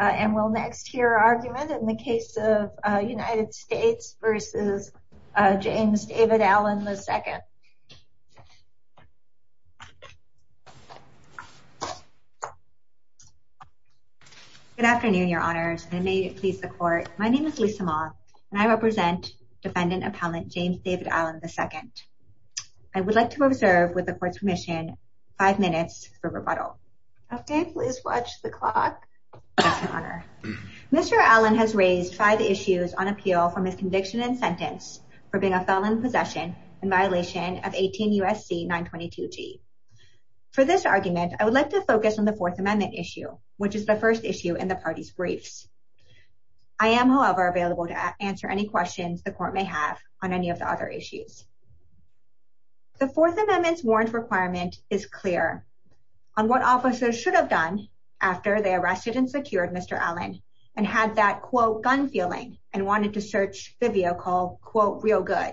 And we'll next hear argument in the case of United States v. James David Allen, II. Good afternoon, Your Honors, and may it please the Court. My name is Lisa Moth, and I represent Defendant Appellant James David Allen, II. I would like to observe, with the Court's permission, five minutes for rebuttal. Okay, please watch the clock. Mr. Allen has raised five issues on appeal for miscondiction in sentence for being a felon in possession in violation of 18 U.S.C. 922g. For this argument, I would like to focus on the Fourth Amendment issue, which is the first issue in the party's briefs. I am, however, available to answer any questions the Court may have on any of the other issues. The Fourth Amendment's warrant requirement is clear on what officers should have done after they arrested and secured Mr. Allen and had that, quote, gun feeling and wanted to search the vehicle, quote, real good.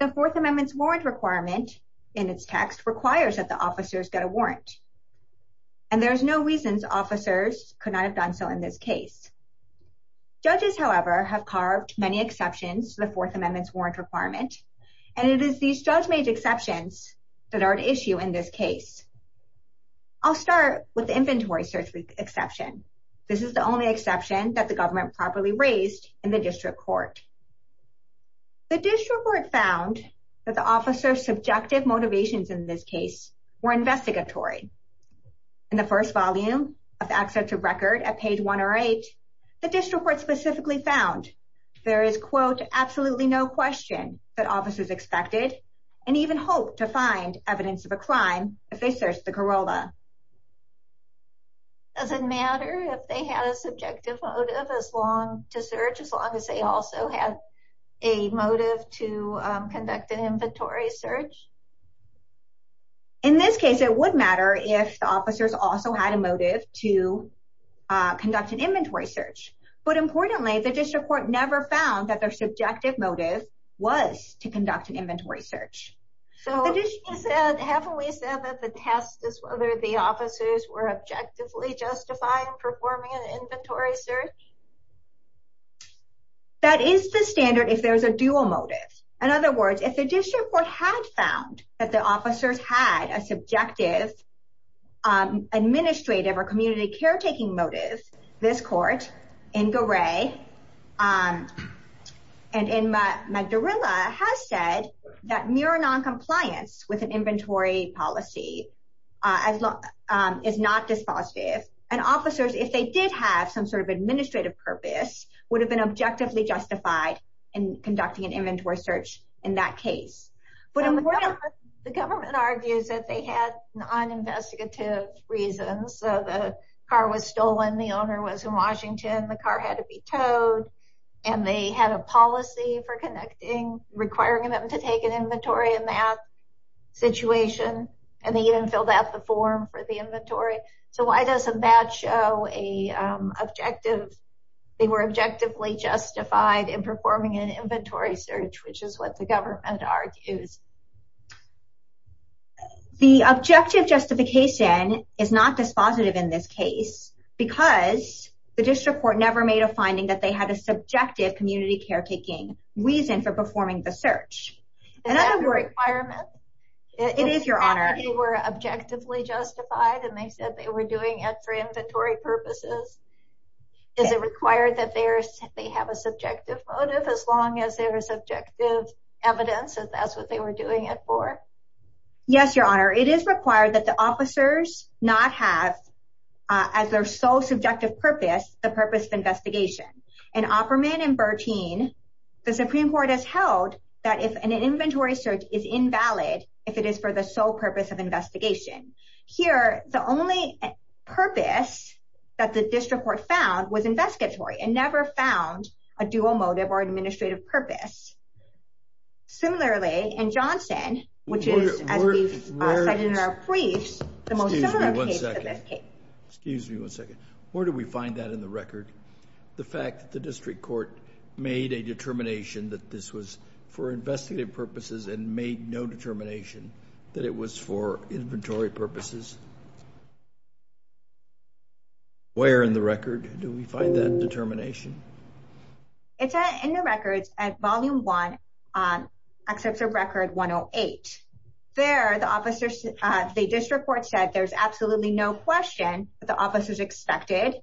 The Fourth Amendment's warrant requirement in its text requires that the officers get a warrant, and there's no reasons officers could not have done so in this case. Judges, however, have carved many exceptions to the Fourth Amendment's warrant requirement, and it is these judge-made exceptions that are at issue in this case. I'll start with the inventory search exception. This is the only exception that the government properly raised in the District Court. The District Court found that the officer's subjective motivations in this case were investigatory. In the first volume of the case, there was absolutely no question that officers expected and even hoped to find evidence of a crime if they searched the Corolla. Does it matter if they had a subjective motive as long to search as long as they also had a motive to conduct an inventory search? In this case, it would matter if the officers also had a motive to conduct an inventory search, but importantly, the District Court never found that their subjective motive was to conduct an inventory search. So, haven't we said that the test is whether the officers were objectively justifying performing an inventory search? That is the standard if there's a dual motive. In other words, if the District Court had found that the officers had a subjective administrative or community caretaking motive, this Court in Garay and in Magdalena has said that mere non-compliance with an inventory policy is not dispositive, and officers, if they did have some sort of administrative purpose, would have been objectively justified in conducting an inventory search. So, the car was stolen, the owner was in Washington, the car had to be towed, and they had a policy for connecting requiring them to take an inventory in that situation, and they even filled out the form for the inventory. So, why doesn't that show an objective? They were objectively justified in performing an inventory search, which is what the is not dispositive in this case because the District Court never made a finding that they had a subjective community caretaking reason for performing the search. Is that a requirement? It is, Your Honor. They were objectively justified and they said they were doing it for inventory purposes. Is it required that they have a subjective motive as long as there is objective evidence and that's what they were doing it for? Yes, Your Honor. It is required that the officers not have, as their sole subjective purpose, the purpose of investigation. In Opperman and Bertine, the Supreme Court has held that if an inventory search is invalid, if it is for the sole purpose of investigation. Here, the only purpose that the District Court found was investigatory and never found a dual motive or administrative purpose. Similarly, in Johnston, which is, as we've said in our briefs, the most similar case to this case. Excuse me one second. Where do we find that in the record? The fact that the District Court made a determination that this was for investigative purposes and made no determination that it was for inventory purposes? Where in the record do we find that determination? It's in the records at Volume 1, Excerpt of Record 108. There, the District Court said there's absolutely no question that the officers expected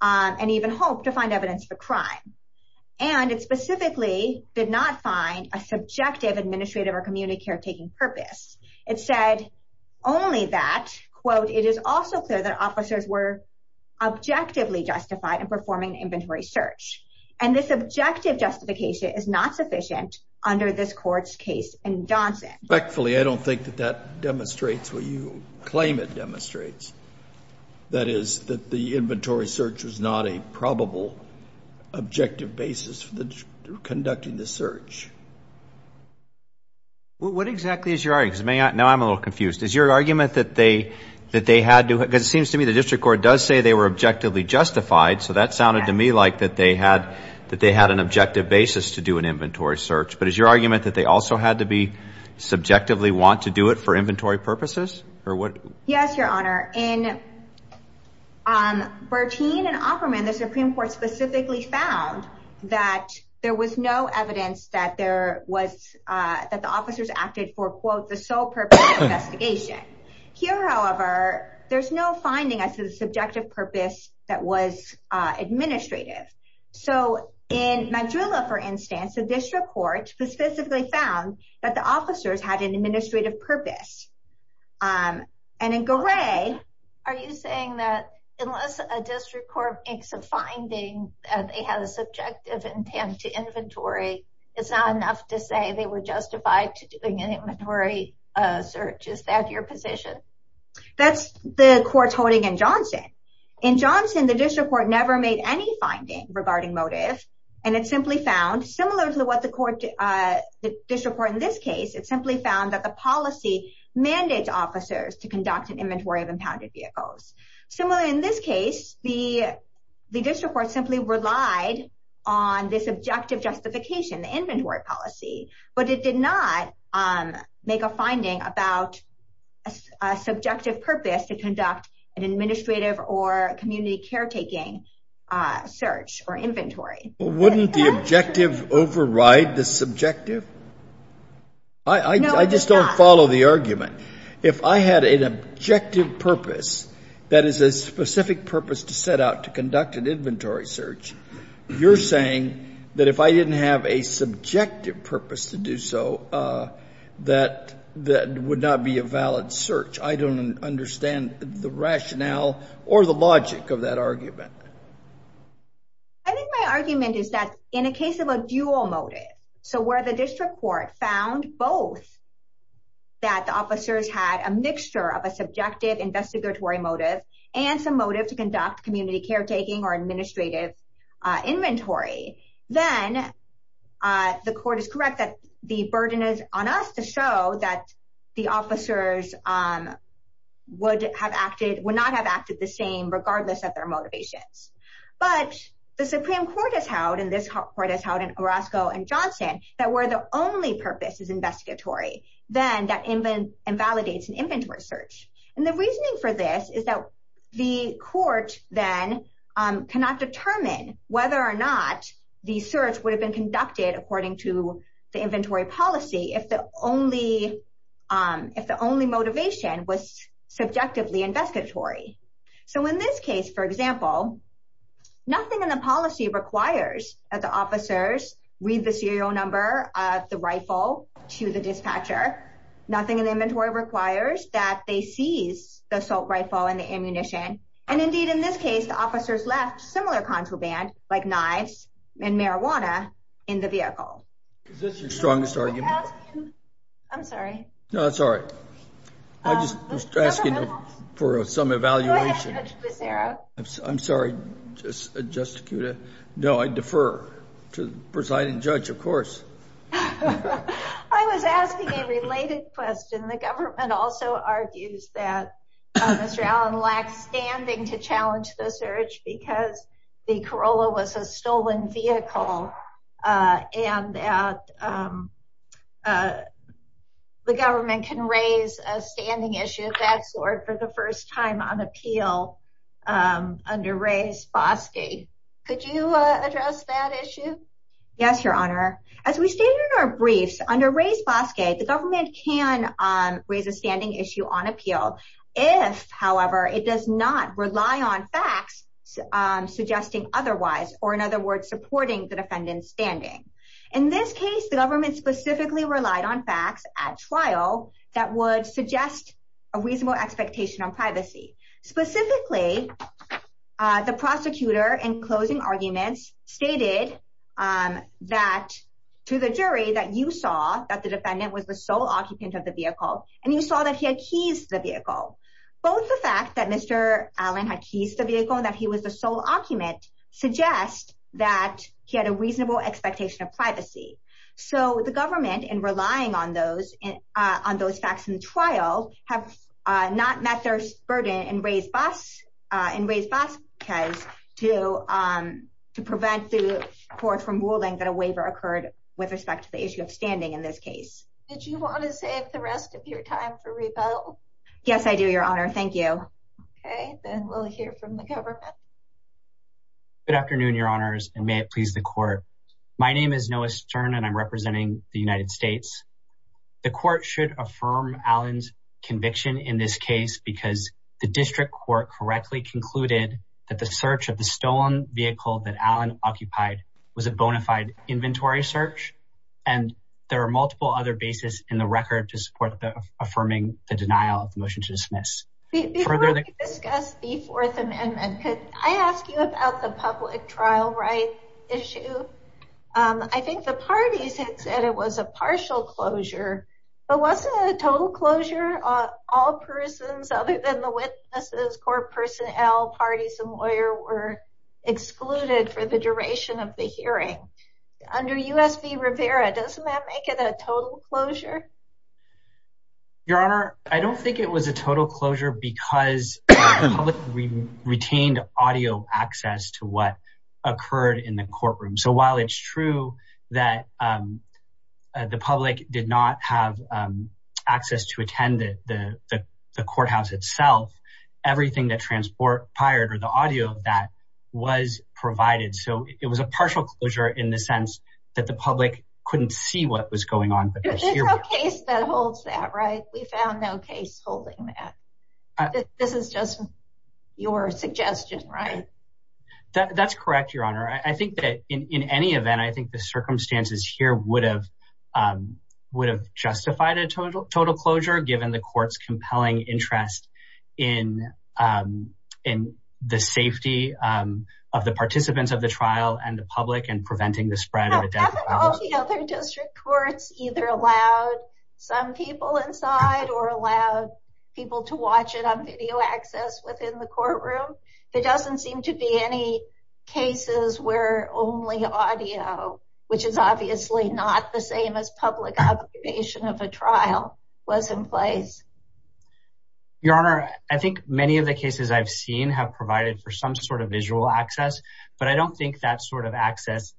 and even hoped to find evidence for crime. And it specifically did not find a subjective administrative or community care taking purpose. It said only that, quote, it is also clear that officers were objectively justified in performing inventory search. And this objective justification is not sufficient under this court's case in Johnston. I don't think that that demonstrates what you claim it demonstrates. That is, that the inventory search was not a probable objective basis for conducting the search. What exactly is your argument? Now I'm a little confused. Is your argument that they had to, because it seems to me the District Court does say they were objectively justified, so that sounded to me like that they had an objective basis to do an inventory search. But is your argument that they also had to be subjectively want to do it for inventory purposes? Yes, Your Honor. In Bertine and Opperman, the Supreme Court specifically found that there was no evidence that there was, that the officers acted for, quote, the sole purpose of investigation. Here, however, there's no finding as to the subjective purpose that was administrative. So in Majula, for instance, the District Court specifically found that the officers had an administrative purpose. And in Gray... Are you saying that unless a District Court makes a finding that they had a subjective intent to inventory, it's not enough to say they were justified to doing an inventory search? Is that your position? That's the court's holding in Johnson. In Johnson, the District Court never made any finding regarding motive. And it simply found, similar to what the District Court in this case, it simply found that the policy mandates officers to conduct an inventory of impounded vehicles. Similarly, in this case, the District Court simply relied on this objective justification, the inventory policy, but it did not make a finding about a subjective purpose to conduct an administrative or community caretaking search or inventory. Wouldn't the objective override the subjective? I just don't follow the argument. If I had an objective purpose that is a specific purpose to set out to conduct an inventory search, you're saying that if I didn't have a subjective purpose to do so, that would not be a valid search. I don't understand the rationale or the logic of that argument. I think my argument is that in a case of a dual motive, so where the District Court found both that the officers had a mixture of a subjective investigatory motive and some motive to conduct community caretaking or administrative inventory, then the court is correct that the burden is on us to show that the officers would not have acted the same regardless of their motivations. But the Supreme Court has held, and this court has held in Orozco and Johnson, that where the only purpose is investigatory, then that invalidates an inventory search. And the reasoning for this is that the court then cannot determine whether or not the search would have been conducted according to the inventory policy if the only motivation was subjectively investigatory. So in this case, for example, nothing in the policy requires that the officers read the serial number of the rifle to the dispatcher. Nothing in the inventory requires that they seize the assault rifle and the ammunition. And indeed, in this case, the officers left similar contraband, like knives and marijuana, in the vehicle. Is this your strongest argument? I'm sorry. No, that's all right. I'm just asking for some evaluation. Go ahead, Judge Becerra. I'm sorry, Justice Kuda. No, I defer to the presiding judge, of course. I was asking a related question. The government also argues that Mr. Allen lacks standing to challenge the search because the Corolla was a stolen vehicle and that the government can raise a standing issue of that sort for the first time on appeal under Reyes-Foskey. Could you address that issue? Yes, Your Honor. As we stated in our briefs, under Reyes-Foskey, the government can raise a standing issue on appeal if, however, it does not rely on facts suggesting otherwise, or in other words, supporting the defendant's standing. In this case, the government specifically relied on facts at trial that would suggest a reasonable expectation on privacy. Specifically, the fact to the jury that you saw that the defendant was the sole occupant of the vehicle and you saw that he had keys to the vehicle. Both the fact that Mr. Allen had keys to the vehicle and that he was the sole occupant suggest that he had a reasonable expectation of privacy. The government, in relying on those facts in the trial, have not met their burden in Reyes-Foskey to prevent the court from ruling that a waiver occurred with respect to the issue of standing in this case. Did you want to save the rest of your time for rebuttal? Yes, I do, Your Honor. Thank you. Okay, then we'll hear from the government. Good afternoon, Your Honors, and may it please the court. My name is Noah Stern and I'm representing the United States. The court should affirm Allen's conviction in this case because the district court correctly concluded that the search of the stolen vehicle that Allen occupied was a bona fide inventory search and there are multiple other bases in the record to support the affirming the denial of the motion to dismiss. Before we discuss the Fourth Amendment, could I ask you about the public trial right issue? I think the parties had said it was a partial closure, but wasn't a total closure all persons other than the witnesses, court personnel, parties, and lawyer were excluded for the duration of the hearing. Under U.S. v. Rivera, doesn't that make it a total closure? Your Honor, I don't think it was a total closure because the public retained audio access to what occurred in the courtroom. So while it's true that the public did not have access to attend the courthouse itself, everything that transpired or the audio of that was provided. So it was a partial closure in the sense that the public couldn't see what was going on. There's no case that holds that right? We found no case holding that. This is just your suggestion, right? That's correct, Your Honor. I think that in any event, I think the circumstances here would have justified a total closure, given the court's compelling interest in the safety of the participants of the trial and the public and preventing the spread of a death penalty. Haven't all the other district courts either allowed some people inside or allowed people to watch it on video access within the courtroom? There doesn't seem to be any cases where only audio, which is obviously not the same as public observation of a trial, was in place. Your Honor, I think many of the cases I've seen have provided for some sort of visual access, but I don't think that sort of access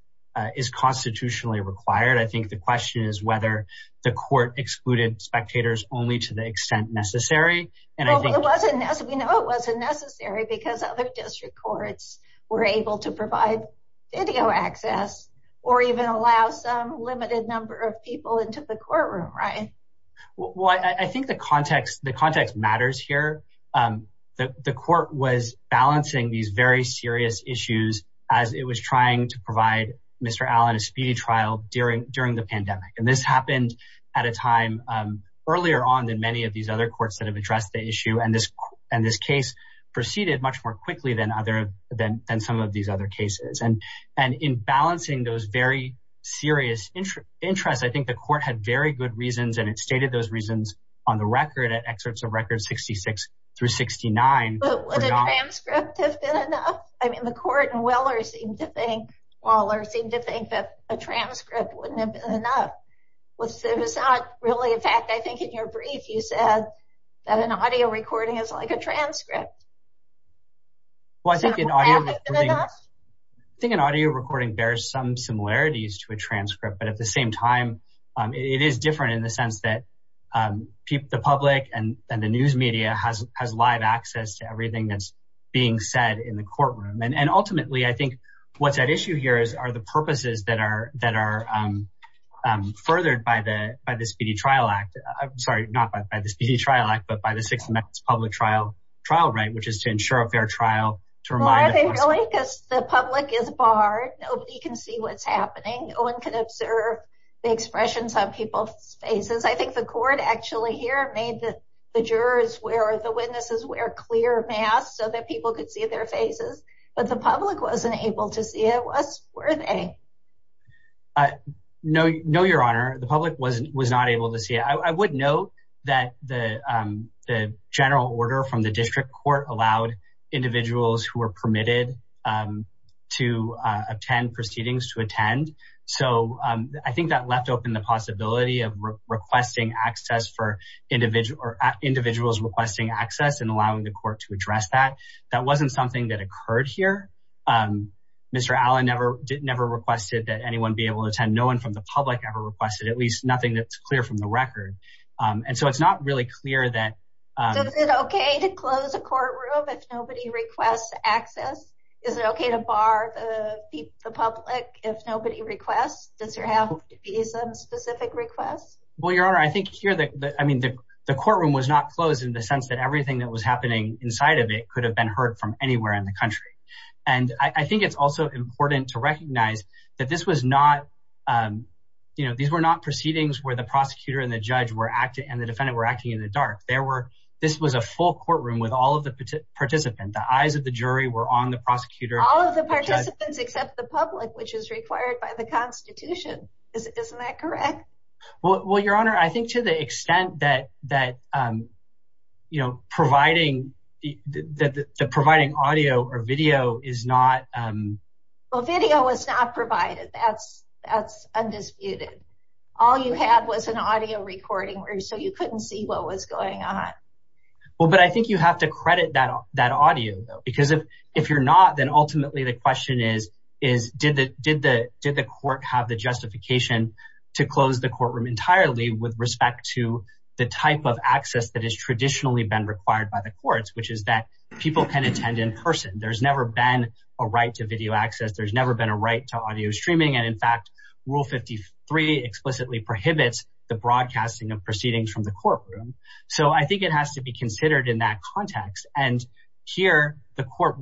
is constitutionally required. I think the question is whether the court excluded spectators only to the extent necessary. It wasn't necessary. We know it wasn't necessary because other district courts were able to provide video access or even allow some limited number of people into the courtroom, right? Well, I think the context matters here. The court was balancing these very serious issues as it was trying to provide Mr. Allen a speedy trial during the pandemic. This happened at a time when the courts had addressed the issue, and this case proceeded much more quickly than some of these other cases. In balancing those very serious interests, I think the court had very good reasons, and it stated those reasons on the record at excerpts of records 66 through 69. But would a transcript have been enough? I mean, the court in Waller seemed to think that a transcript wouldn't have been enough. It was not really a fact. I think in your brief, you said that an audio recording is like a transcript. Well, I think an audio recording bears some similarities to a transcript, but at the same time, it is different in the sense that the public and the news media has live access to everything that's being said in the courtroom. And ultimately, I think what's at issue here are the purposes that are furthered by the Speedy Trial Act, but by the Sixth Amendment Public Trial right, which is to ensure a fair trial. The public is barred. Nobody can see what's happening. No one can observe the expressions on people's faces. I think the court actually here made the jurors wear clear masks so that people could see their faces, but the public wasn't able to see it. Were they? No, Your Honor. The public was not able to see it. I would note that the general order from the district court allowed individuals who were permitted to attend proceedings to attend. So I think that left open the possibility of requesting access for individuals requesting access and allowing the court to address that. That wasn't something that occurred here. Mr. Allen never requested that anyone be able to attend. No one from the public ever requested, at least nothing that's clear from the record. And so it's not really clear that- Is it okay to close a courtroom if nobody requests access? Is it okay to bar the public if nobody requests? Does there have to be some specific requests? Well, Your Honor, I think here, I mean, the courtroom was not closed in the sense that everything that was happening inside of it could have been heard from anywhere in the country. And I think it's also important to recognize that these were not proceedings where the prosecutor and the judge and the defendant were acting in the dark. This was a full courtroom with all of the participants. The eyes of the jury were on the prosecutor. All of the participants except the public, which is required by the constitution. Isn't that correct? Well, Your Honor, I think to the extent that providing audio or video is not- Well, video was not provided. That's undisputed. All you had was an audio recording, so you couldn't see what was going on. Well, but I think you have to credit that audio though, because if you're not, then ultimately the question is, did the court have the justification to close the courtroom entirely with respect to the type of access that has traditionally been required by the courts, which is that people can attend in person. There's never been a right to video access. There's never been a right to audio streaming. And in fact, Rule 53 explicitly prohibits the broadcasting of proceedings from the courtroom. So I think it has to be considered in that context. And here, the court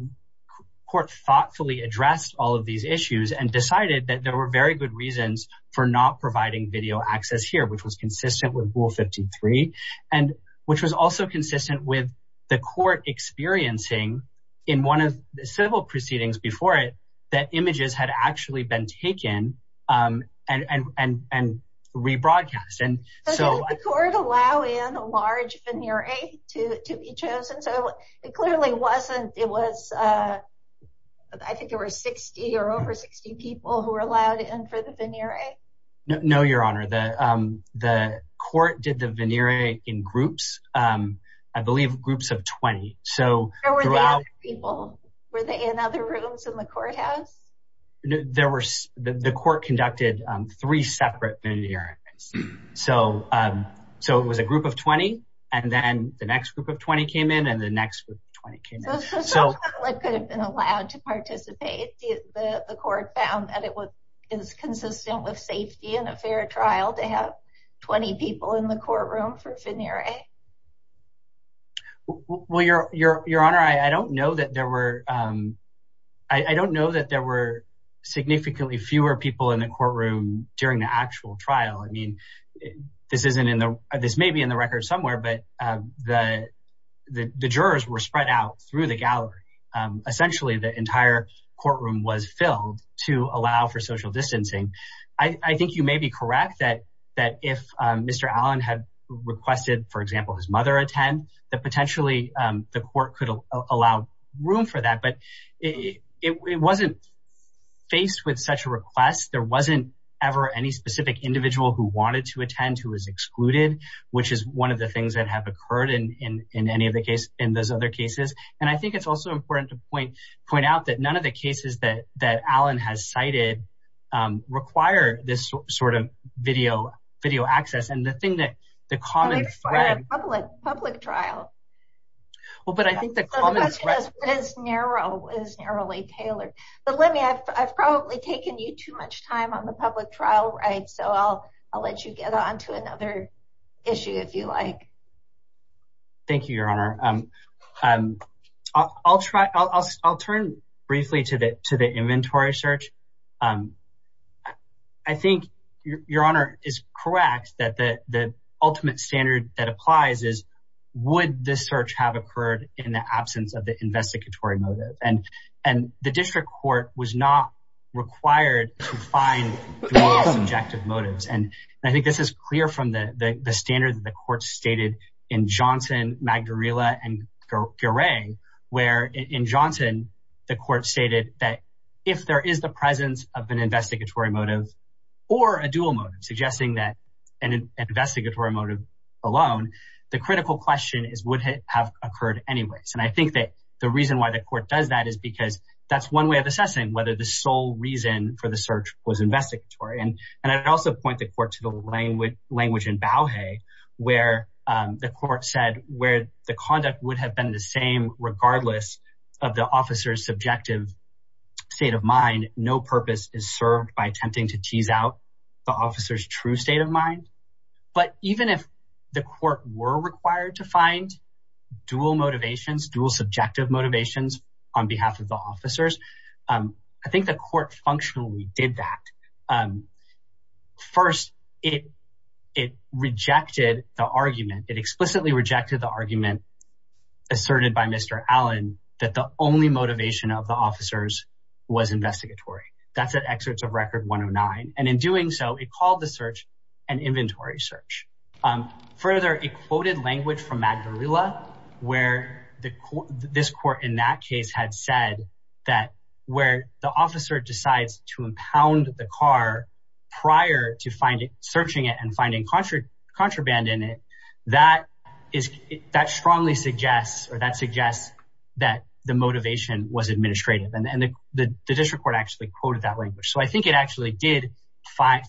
thoughtfully addressed all of these issues and decided that there were very good reasons for not providing video access here, which was consistent with Rule 53, and which was also consistent with the court experiencing in one of the civil proceedings before it, that images had actually been taken and rebroadcast. So did the court allow in a large veneer to be chosen? So it clearly wasn't. It was, I think there were 60 or over 60 people who were allowed in for the veneer. No, your honor, the court did the veneer in groups, I believe groups of 20. So there were other people, were they in other rooms in the courthouse? There were, the court conducted three separate veneers. So it was a group of 20, and then the next group of 20 came in and the next group of 20 came in. So someone could have been allowed to participate. The court found that it was consistent with safety and a fair trial to have 20 people in the courtroom for veneering. Well, your honor, I don't know that there were, I don't know that there were significantly fewer people in the courtroom during the actual trial. I mean, this isn't in the, this may be in the record somewhere, but the jurors were spread out through the gallery. Essentially the entire courtroom was filled to allow for social distancing. I think you may be correct that if Mr. Allen had requested, for example, his mother attend, that potentially the court could allow room for that. But it wasn't faced with such a request. There wasn't ever any specific individual who wanted to attend who was excluded, which is one of the things that have occurred in any of the cases, in those other cases. And I think it's also important to point out that none of the cases that that Allen has cited require this sort of video access. And the thing that the common thread, public trial. Well, but I think the common thread is narrow, is narrowly tailored. But let me, I've probably taken you too much time on the public trial, right? So I'll let you get onto another issue if you like. Thank you, Your Honor. I'll try, I'll turn briefly to the inventory search. I think Your Honor is correct that the ultimate standard that applies is, would this search have occurred in the absence of the investigatory motive? And the district court was not required to find subjective motives. And I think this is clear from the standard that the court stated in Johnson, Magdarella, and Garay, where in Johnson, the court stated that if there is the presence of an investigatory motive, or a dual motive, suggesting that an investigatory motive alone, the critical question is would have occurred anyways. And I think that the reason why the court does that is because that's one way of assessing whether the sole reason for the search was investigatory. And I'd also point the court to the language in Bauhey, where the court said where the conduct would have been the same regardless of the officer's subjective state of mind, no purpose is served by attempting to tease out the officer's true state of mind. But even if the court were required to find dual motivations, dual subjective motivations on behalf of the officers, I think the court functionally did that. First, it rejected the argument. It explicitly rejected the argument asserted by Mr. Allen that the only motivation of the officers was investigatory. That's at from Magdarella, where this court in that case had said that where the officer decides to impound the car prior to searching it and finding contraband in it, that strongly suggests or that suggests that the motivation was administrative. And the district court actually quoted that So I think it actually did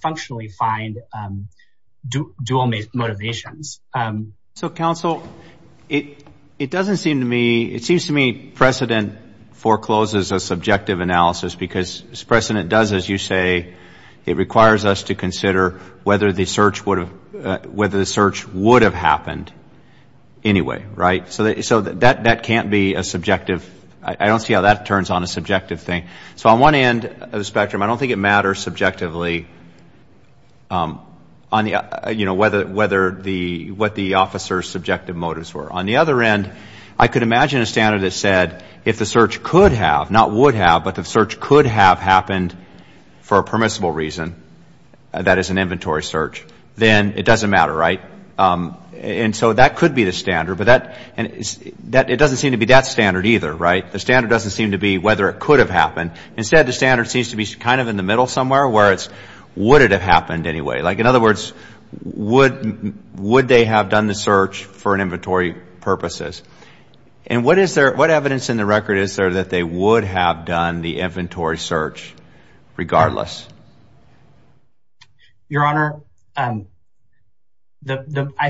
functionally find dual motivations. So counsel, it doesn't seem to me, it seems to me precedent forecloses a subjective analysis because precedent does, as you say, it requires us to consider whether the search would have the search would have happened anyway, right? So that can't be a subjective. I don't see how that turns on a subjective thing. So on one end of the spectrum, I don't think it matters subjectively on the, you know, whether the what the officer's subjective motives were. On the other end, I could imagine a standard that said if the search could have, not would have, but the search could have happened for a permissible reason, that is an inventory search, then it doesn't matter, right? And so that could be the standard, but that and that it doesn't seem to be that standard either, right? The standard doesn't seem to be whether it could have happened. Instead, the standard seems to be kind of in the middle somewhere where it's would it have happened anyway? Like in other words, would would they have done the search for an inventory purposes? And what is there, what evidence in the record is there that they would have done the inventory search regardless? Your Honor, I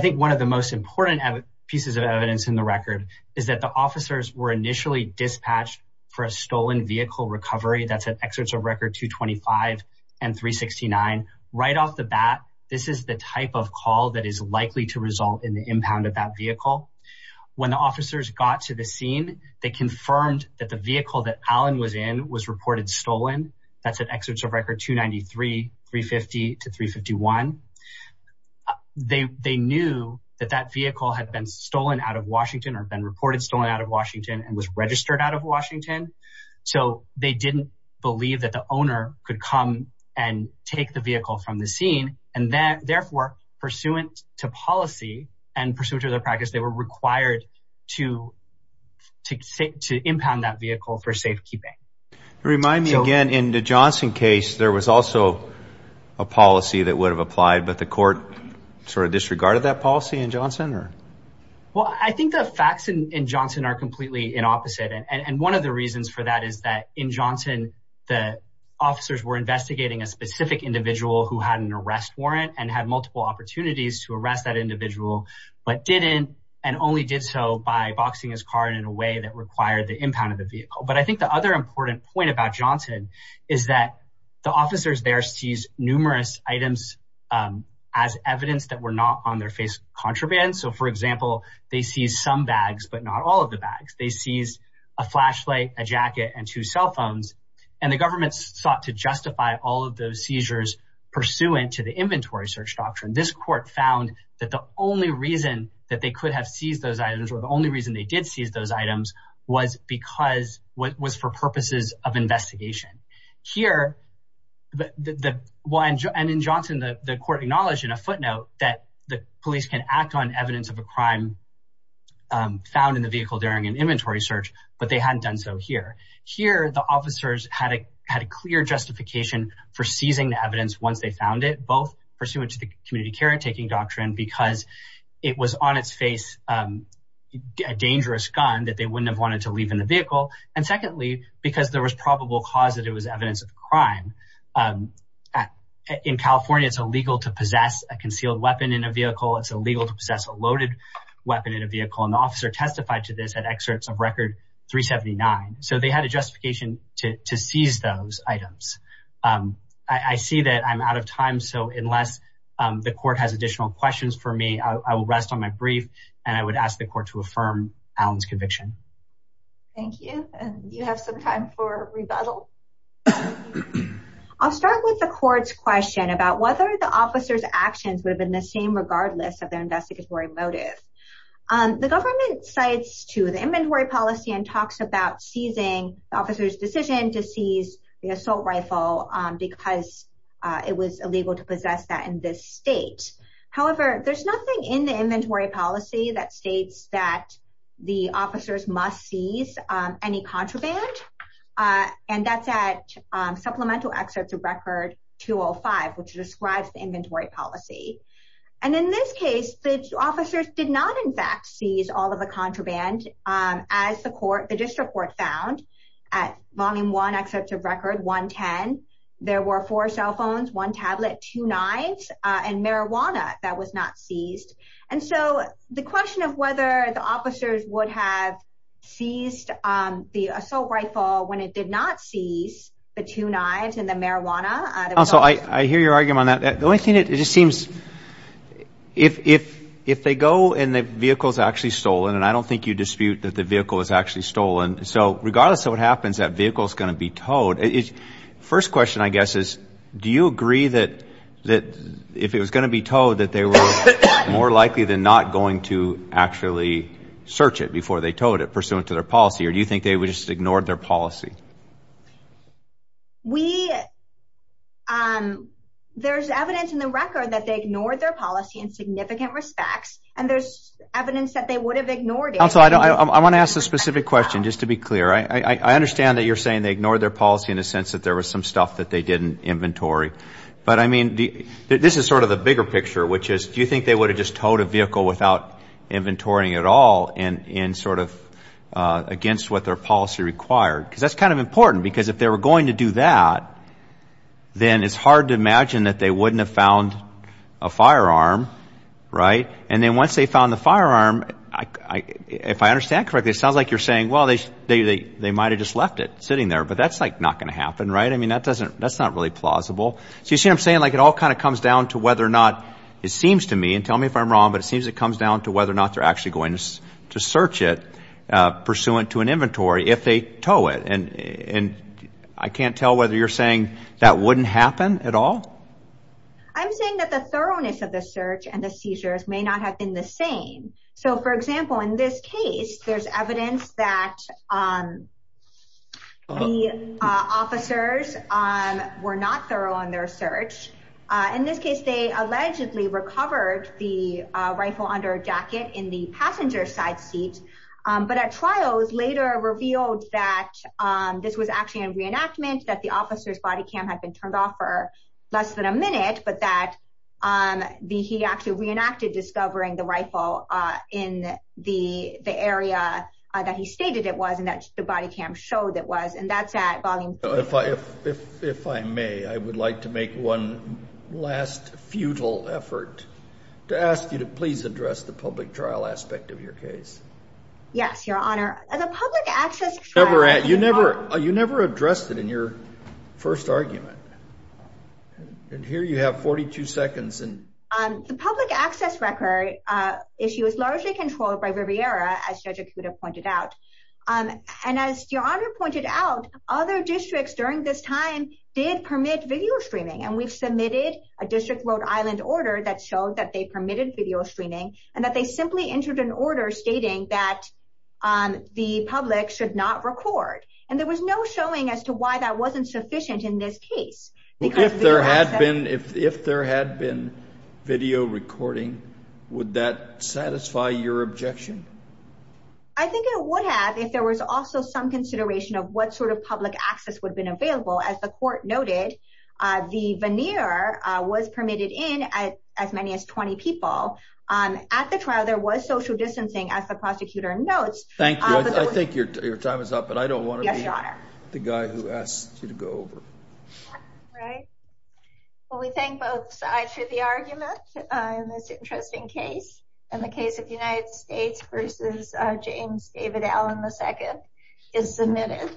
think one of the most important pieces of evidence in the record is that the dispatch for a stolen vehicle recovery that's at Exerts of Record 225 and 369. Right off the bat, this is the type of call that is likely to result in the impound of that vehicle. When the officers got to the scene, they confirmed that the vehicle that Allen was in was reported stolen. That's at Exerts of Record 293, 350 to 351. They knew that that vehicle had been stolen out of Washington or been reported stolen out of Washington and was registered out of Washington. So they didn't believe that the owner could come and take the vehicle from the scene. And then therefore, pursuant to policy and pursuant to their practice, they were required to impound that vehicle for safekeeping. Remind me again, in the Johnson case, there was also a policy that would have applied, but the court sort of disregarded that policy in Well, I think the facts in Johnson are completely in opposite. And one of the reasons for that is that in Johnson, the officers were investigating a specific individual who had an arrest warrant and had multiple opportunities to arrest that individual, but didn't and only did so by boxing his car in a way that required the impound of the vehicle. But I think the other important point about Johnson is that the officers there seized numerous items as evidence that were not on their contraband. So for example, they seized some bags, but not all of the bags. They seized a flashlight, a jacket, and two cell phones. And the government sought to justify all of those seizures pursuant to the inventory search doctrine. This court found that the only reason that they could have seized those items or the only reason they did seize those items was for purposes of evidence of a crime found in the vehicle during an inventory search, but they hadn't done so here. Here, the officers had a clear justification for seizing the evidence once they found it, both pursuant to the community caretaking doctrine because it was on its face a dangerous gun that they wouldn't have wanted to leave in the vehicle. And secondly, because there was probable cause that it was evidence of crime. In California, it's illegal to possess a concealed weapon in a vehicle. It's illegal to possess a loaded weapon in a vehicle. And the officer testified to this at excerpts of Record 379. So they had a justification to seize those items. I see that I'm out of time. So unless the court has additional questions for me, I will rest on my brief and I would ask the court to affirm Allen's conviction. Thank you. And you have some time for rebuttal. I'll start with the court's question about whether the officer's actions within the inventory policy are the same regardless of their investigatory motive. The government cites to the inventory policy and talks about seizing the officer's decision to seize the assault rifle because it was illegal to possess that in this state. However, there's nothing in the inventory policy that states that the officers must seize any contraband. And that's at supplemental excerpts of Record 205, which describes the inventory policy. And in this case, the officers did not, in fact, seize all of the contraband. As the court, the district court found at Volume 1 excerpts of Record 110, there were four cell phones, one tablet, two knives and marijuana that was not seized. And so the question of whether the officers would have seized the assault rifle when it did not seize the two knives and the marijuana. So I hear your argument on that. The only thing it just seems if if if they go and the vehicle is actually stolen and I don't think you dispute that the vehicle is actually stolen. So regardless of what happens, that vehicle is going to be towed. First question, I guess, is do you agree that that if it was going to be towed, that they were more likely than not going to actually search it before they towed it pursuant to their policy? Or we there's evidence in the record that they ignored their policy in significant respects and there's evidence that they would have ignored it. I want to ask a specific question just to be clear. I understand that you're saying they ignored their policy in the sense that there was some stuff that they didn't inventory. But I mean, this is sort of the bigger picture, which is do you think they would have just towed a vehicle without inventorying at all and in sort of against what their policy required? Because that's kind of important. Because if they were going to do that, then it's hard to imagine that they wouldn't have found a firearm. Right. And then once they found the firearm, if I understand correctly, it sounds like you're saying, well, they might have just left it sitting there. But that's like not going to happen. Right. I mean, that doesn't that's not really plausible. So you see what I'm saying? Like it all kind of comes down to whether or not it seems to me and tell me if I'm wrong, but it seems it comes down to actually going to search it pursuant to an inventory if they tow it. And I can't tell whether you're saying that wouldn't happen at all. I'm saying that the thoroughness of the search and the seizures may not have been the same. So, for example, in this case, there's evidence that the officers were not thorough on their search. In this case, they allegedly recovered the rifle under a jacket in the passenger side seat. But at trials later revealed that this was actually a reenactment that the officer's body cam had been turned off for less than a minute, but that the he actually reenacted discovering the rifle in the area that he stated it was and that the body cam showed it was and that's at volume five. If I may, I would like to make one last futile effort to ask you to please address the public trial aspect of your case. Yes, Your Honor, as a public access, you never you never addressed it in your first argument. And here you have 42 seconds and the public access record issue is largely controlled by Riviera, as you pointed out. And as Your Honor pointed out, other districts during this time did permit video streaming. And we've submitted a district Rhode Island order that showed that they permitted video streaming and that they simply entered an order stating that the public should not record. And there was no showing as to why that wasn't sufficient in this case. If there had been video recording, would that satisfy your objection? I think it would if there was also some consideration of what sort of public access would have been available. As the court noted, the veneer was permitted in as many as 20 people. At the trial, there was social distancing as the prosecutor notes. Thank you. I think your time is up, but I don't want to be the guy who asked you to go over. Right. Well, we thank both sides for the argument in this interesting case. And the case of United States versus James David Allen II is submitted.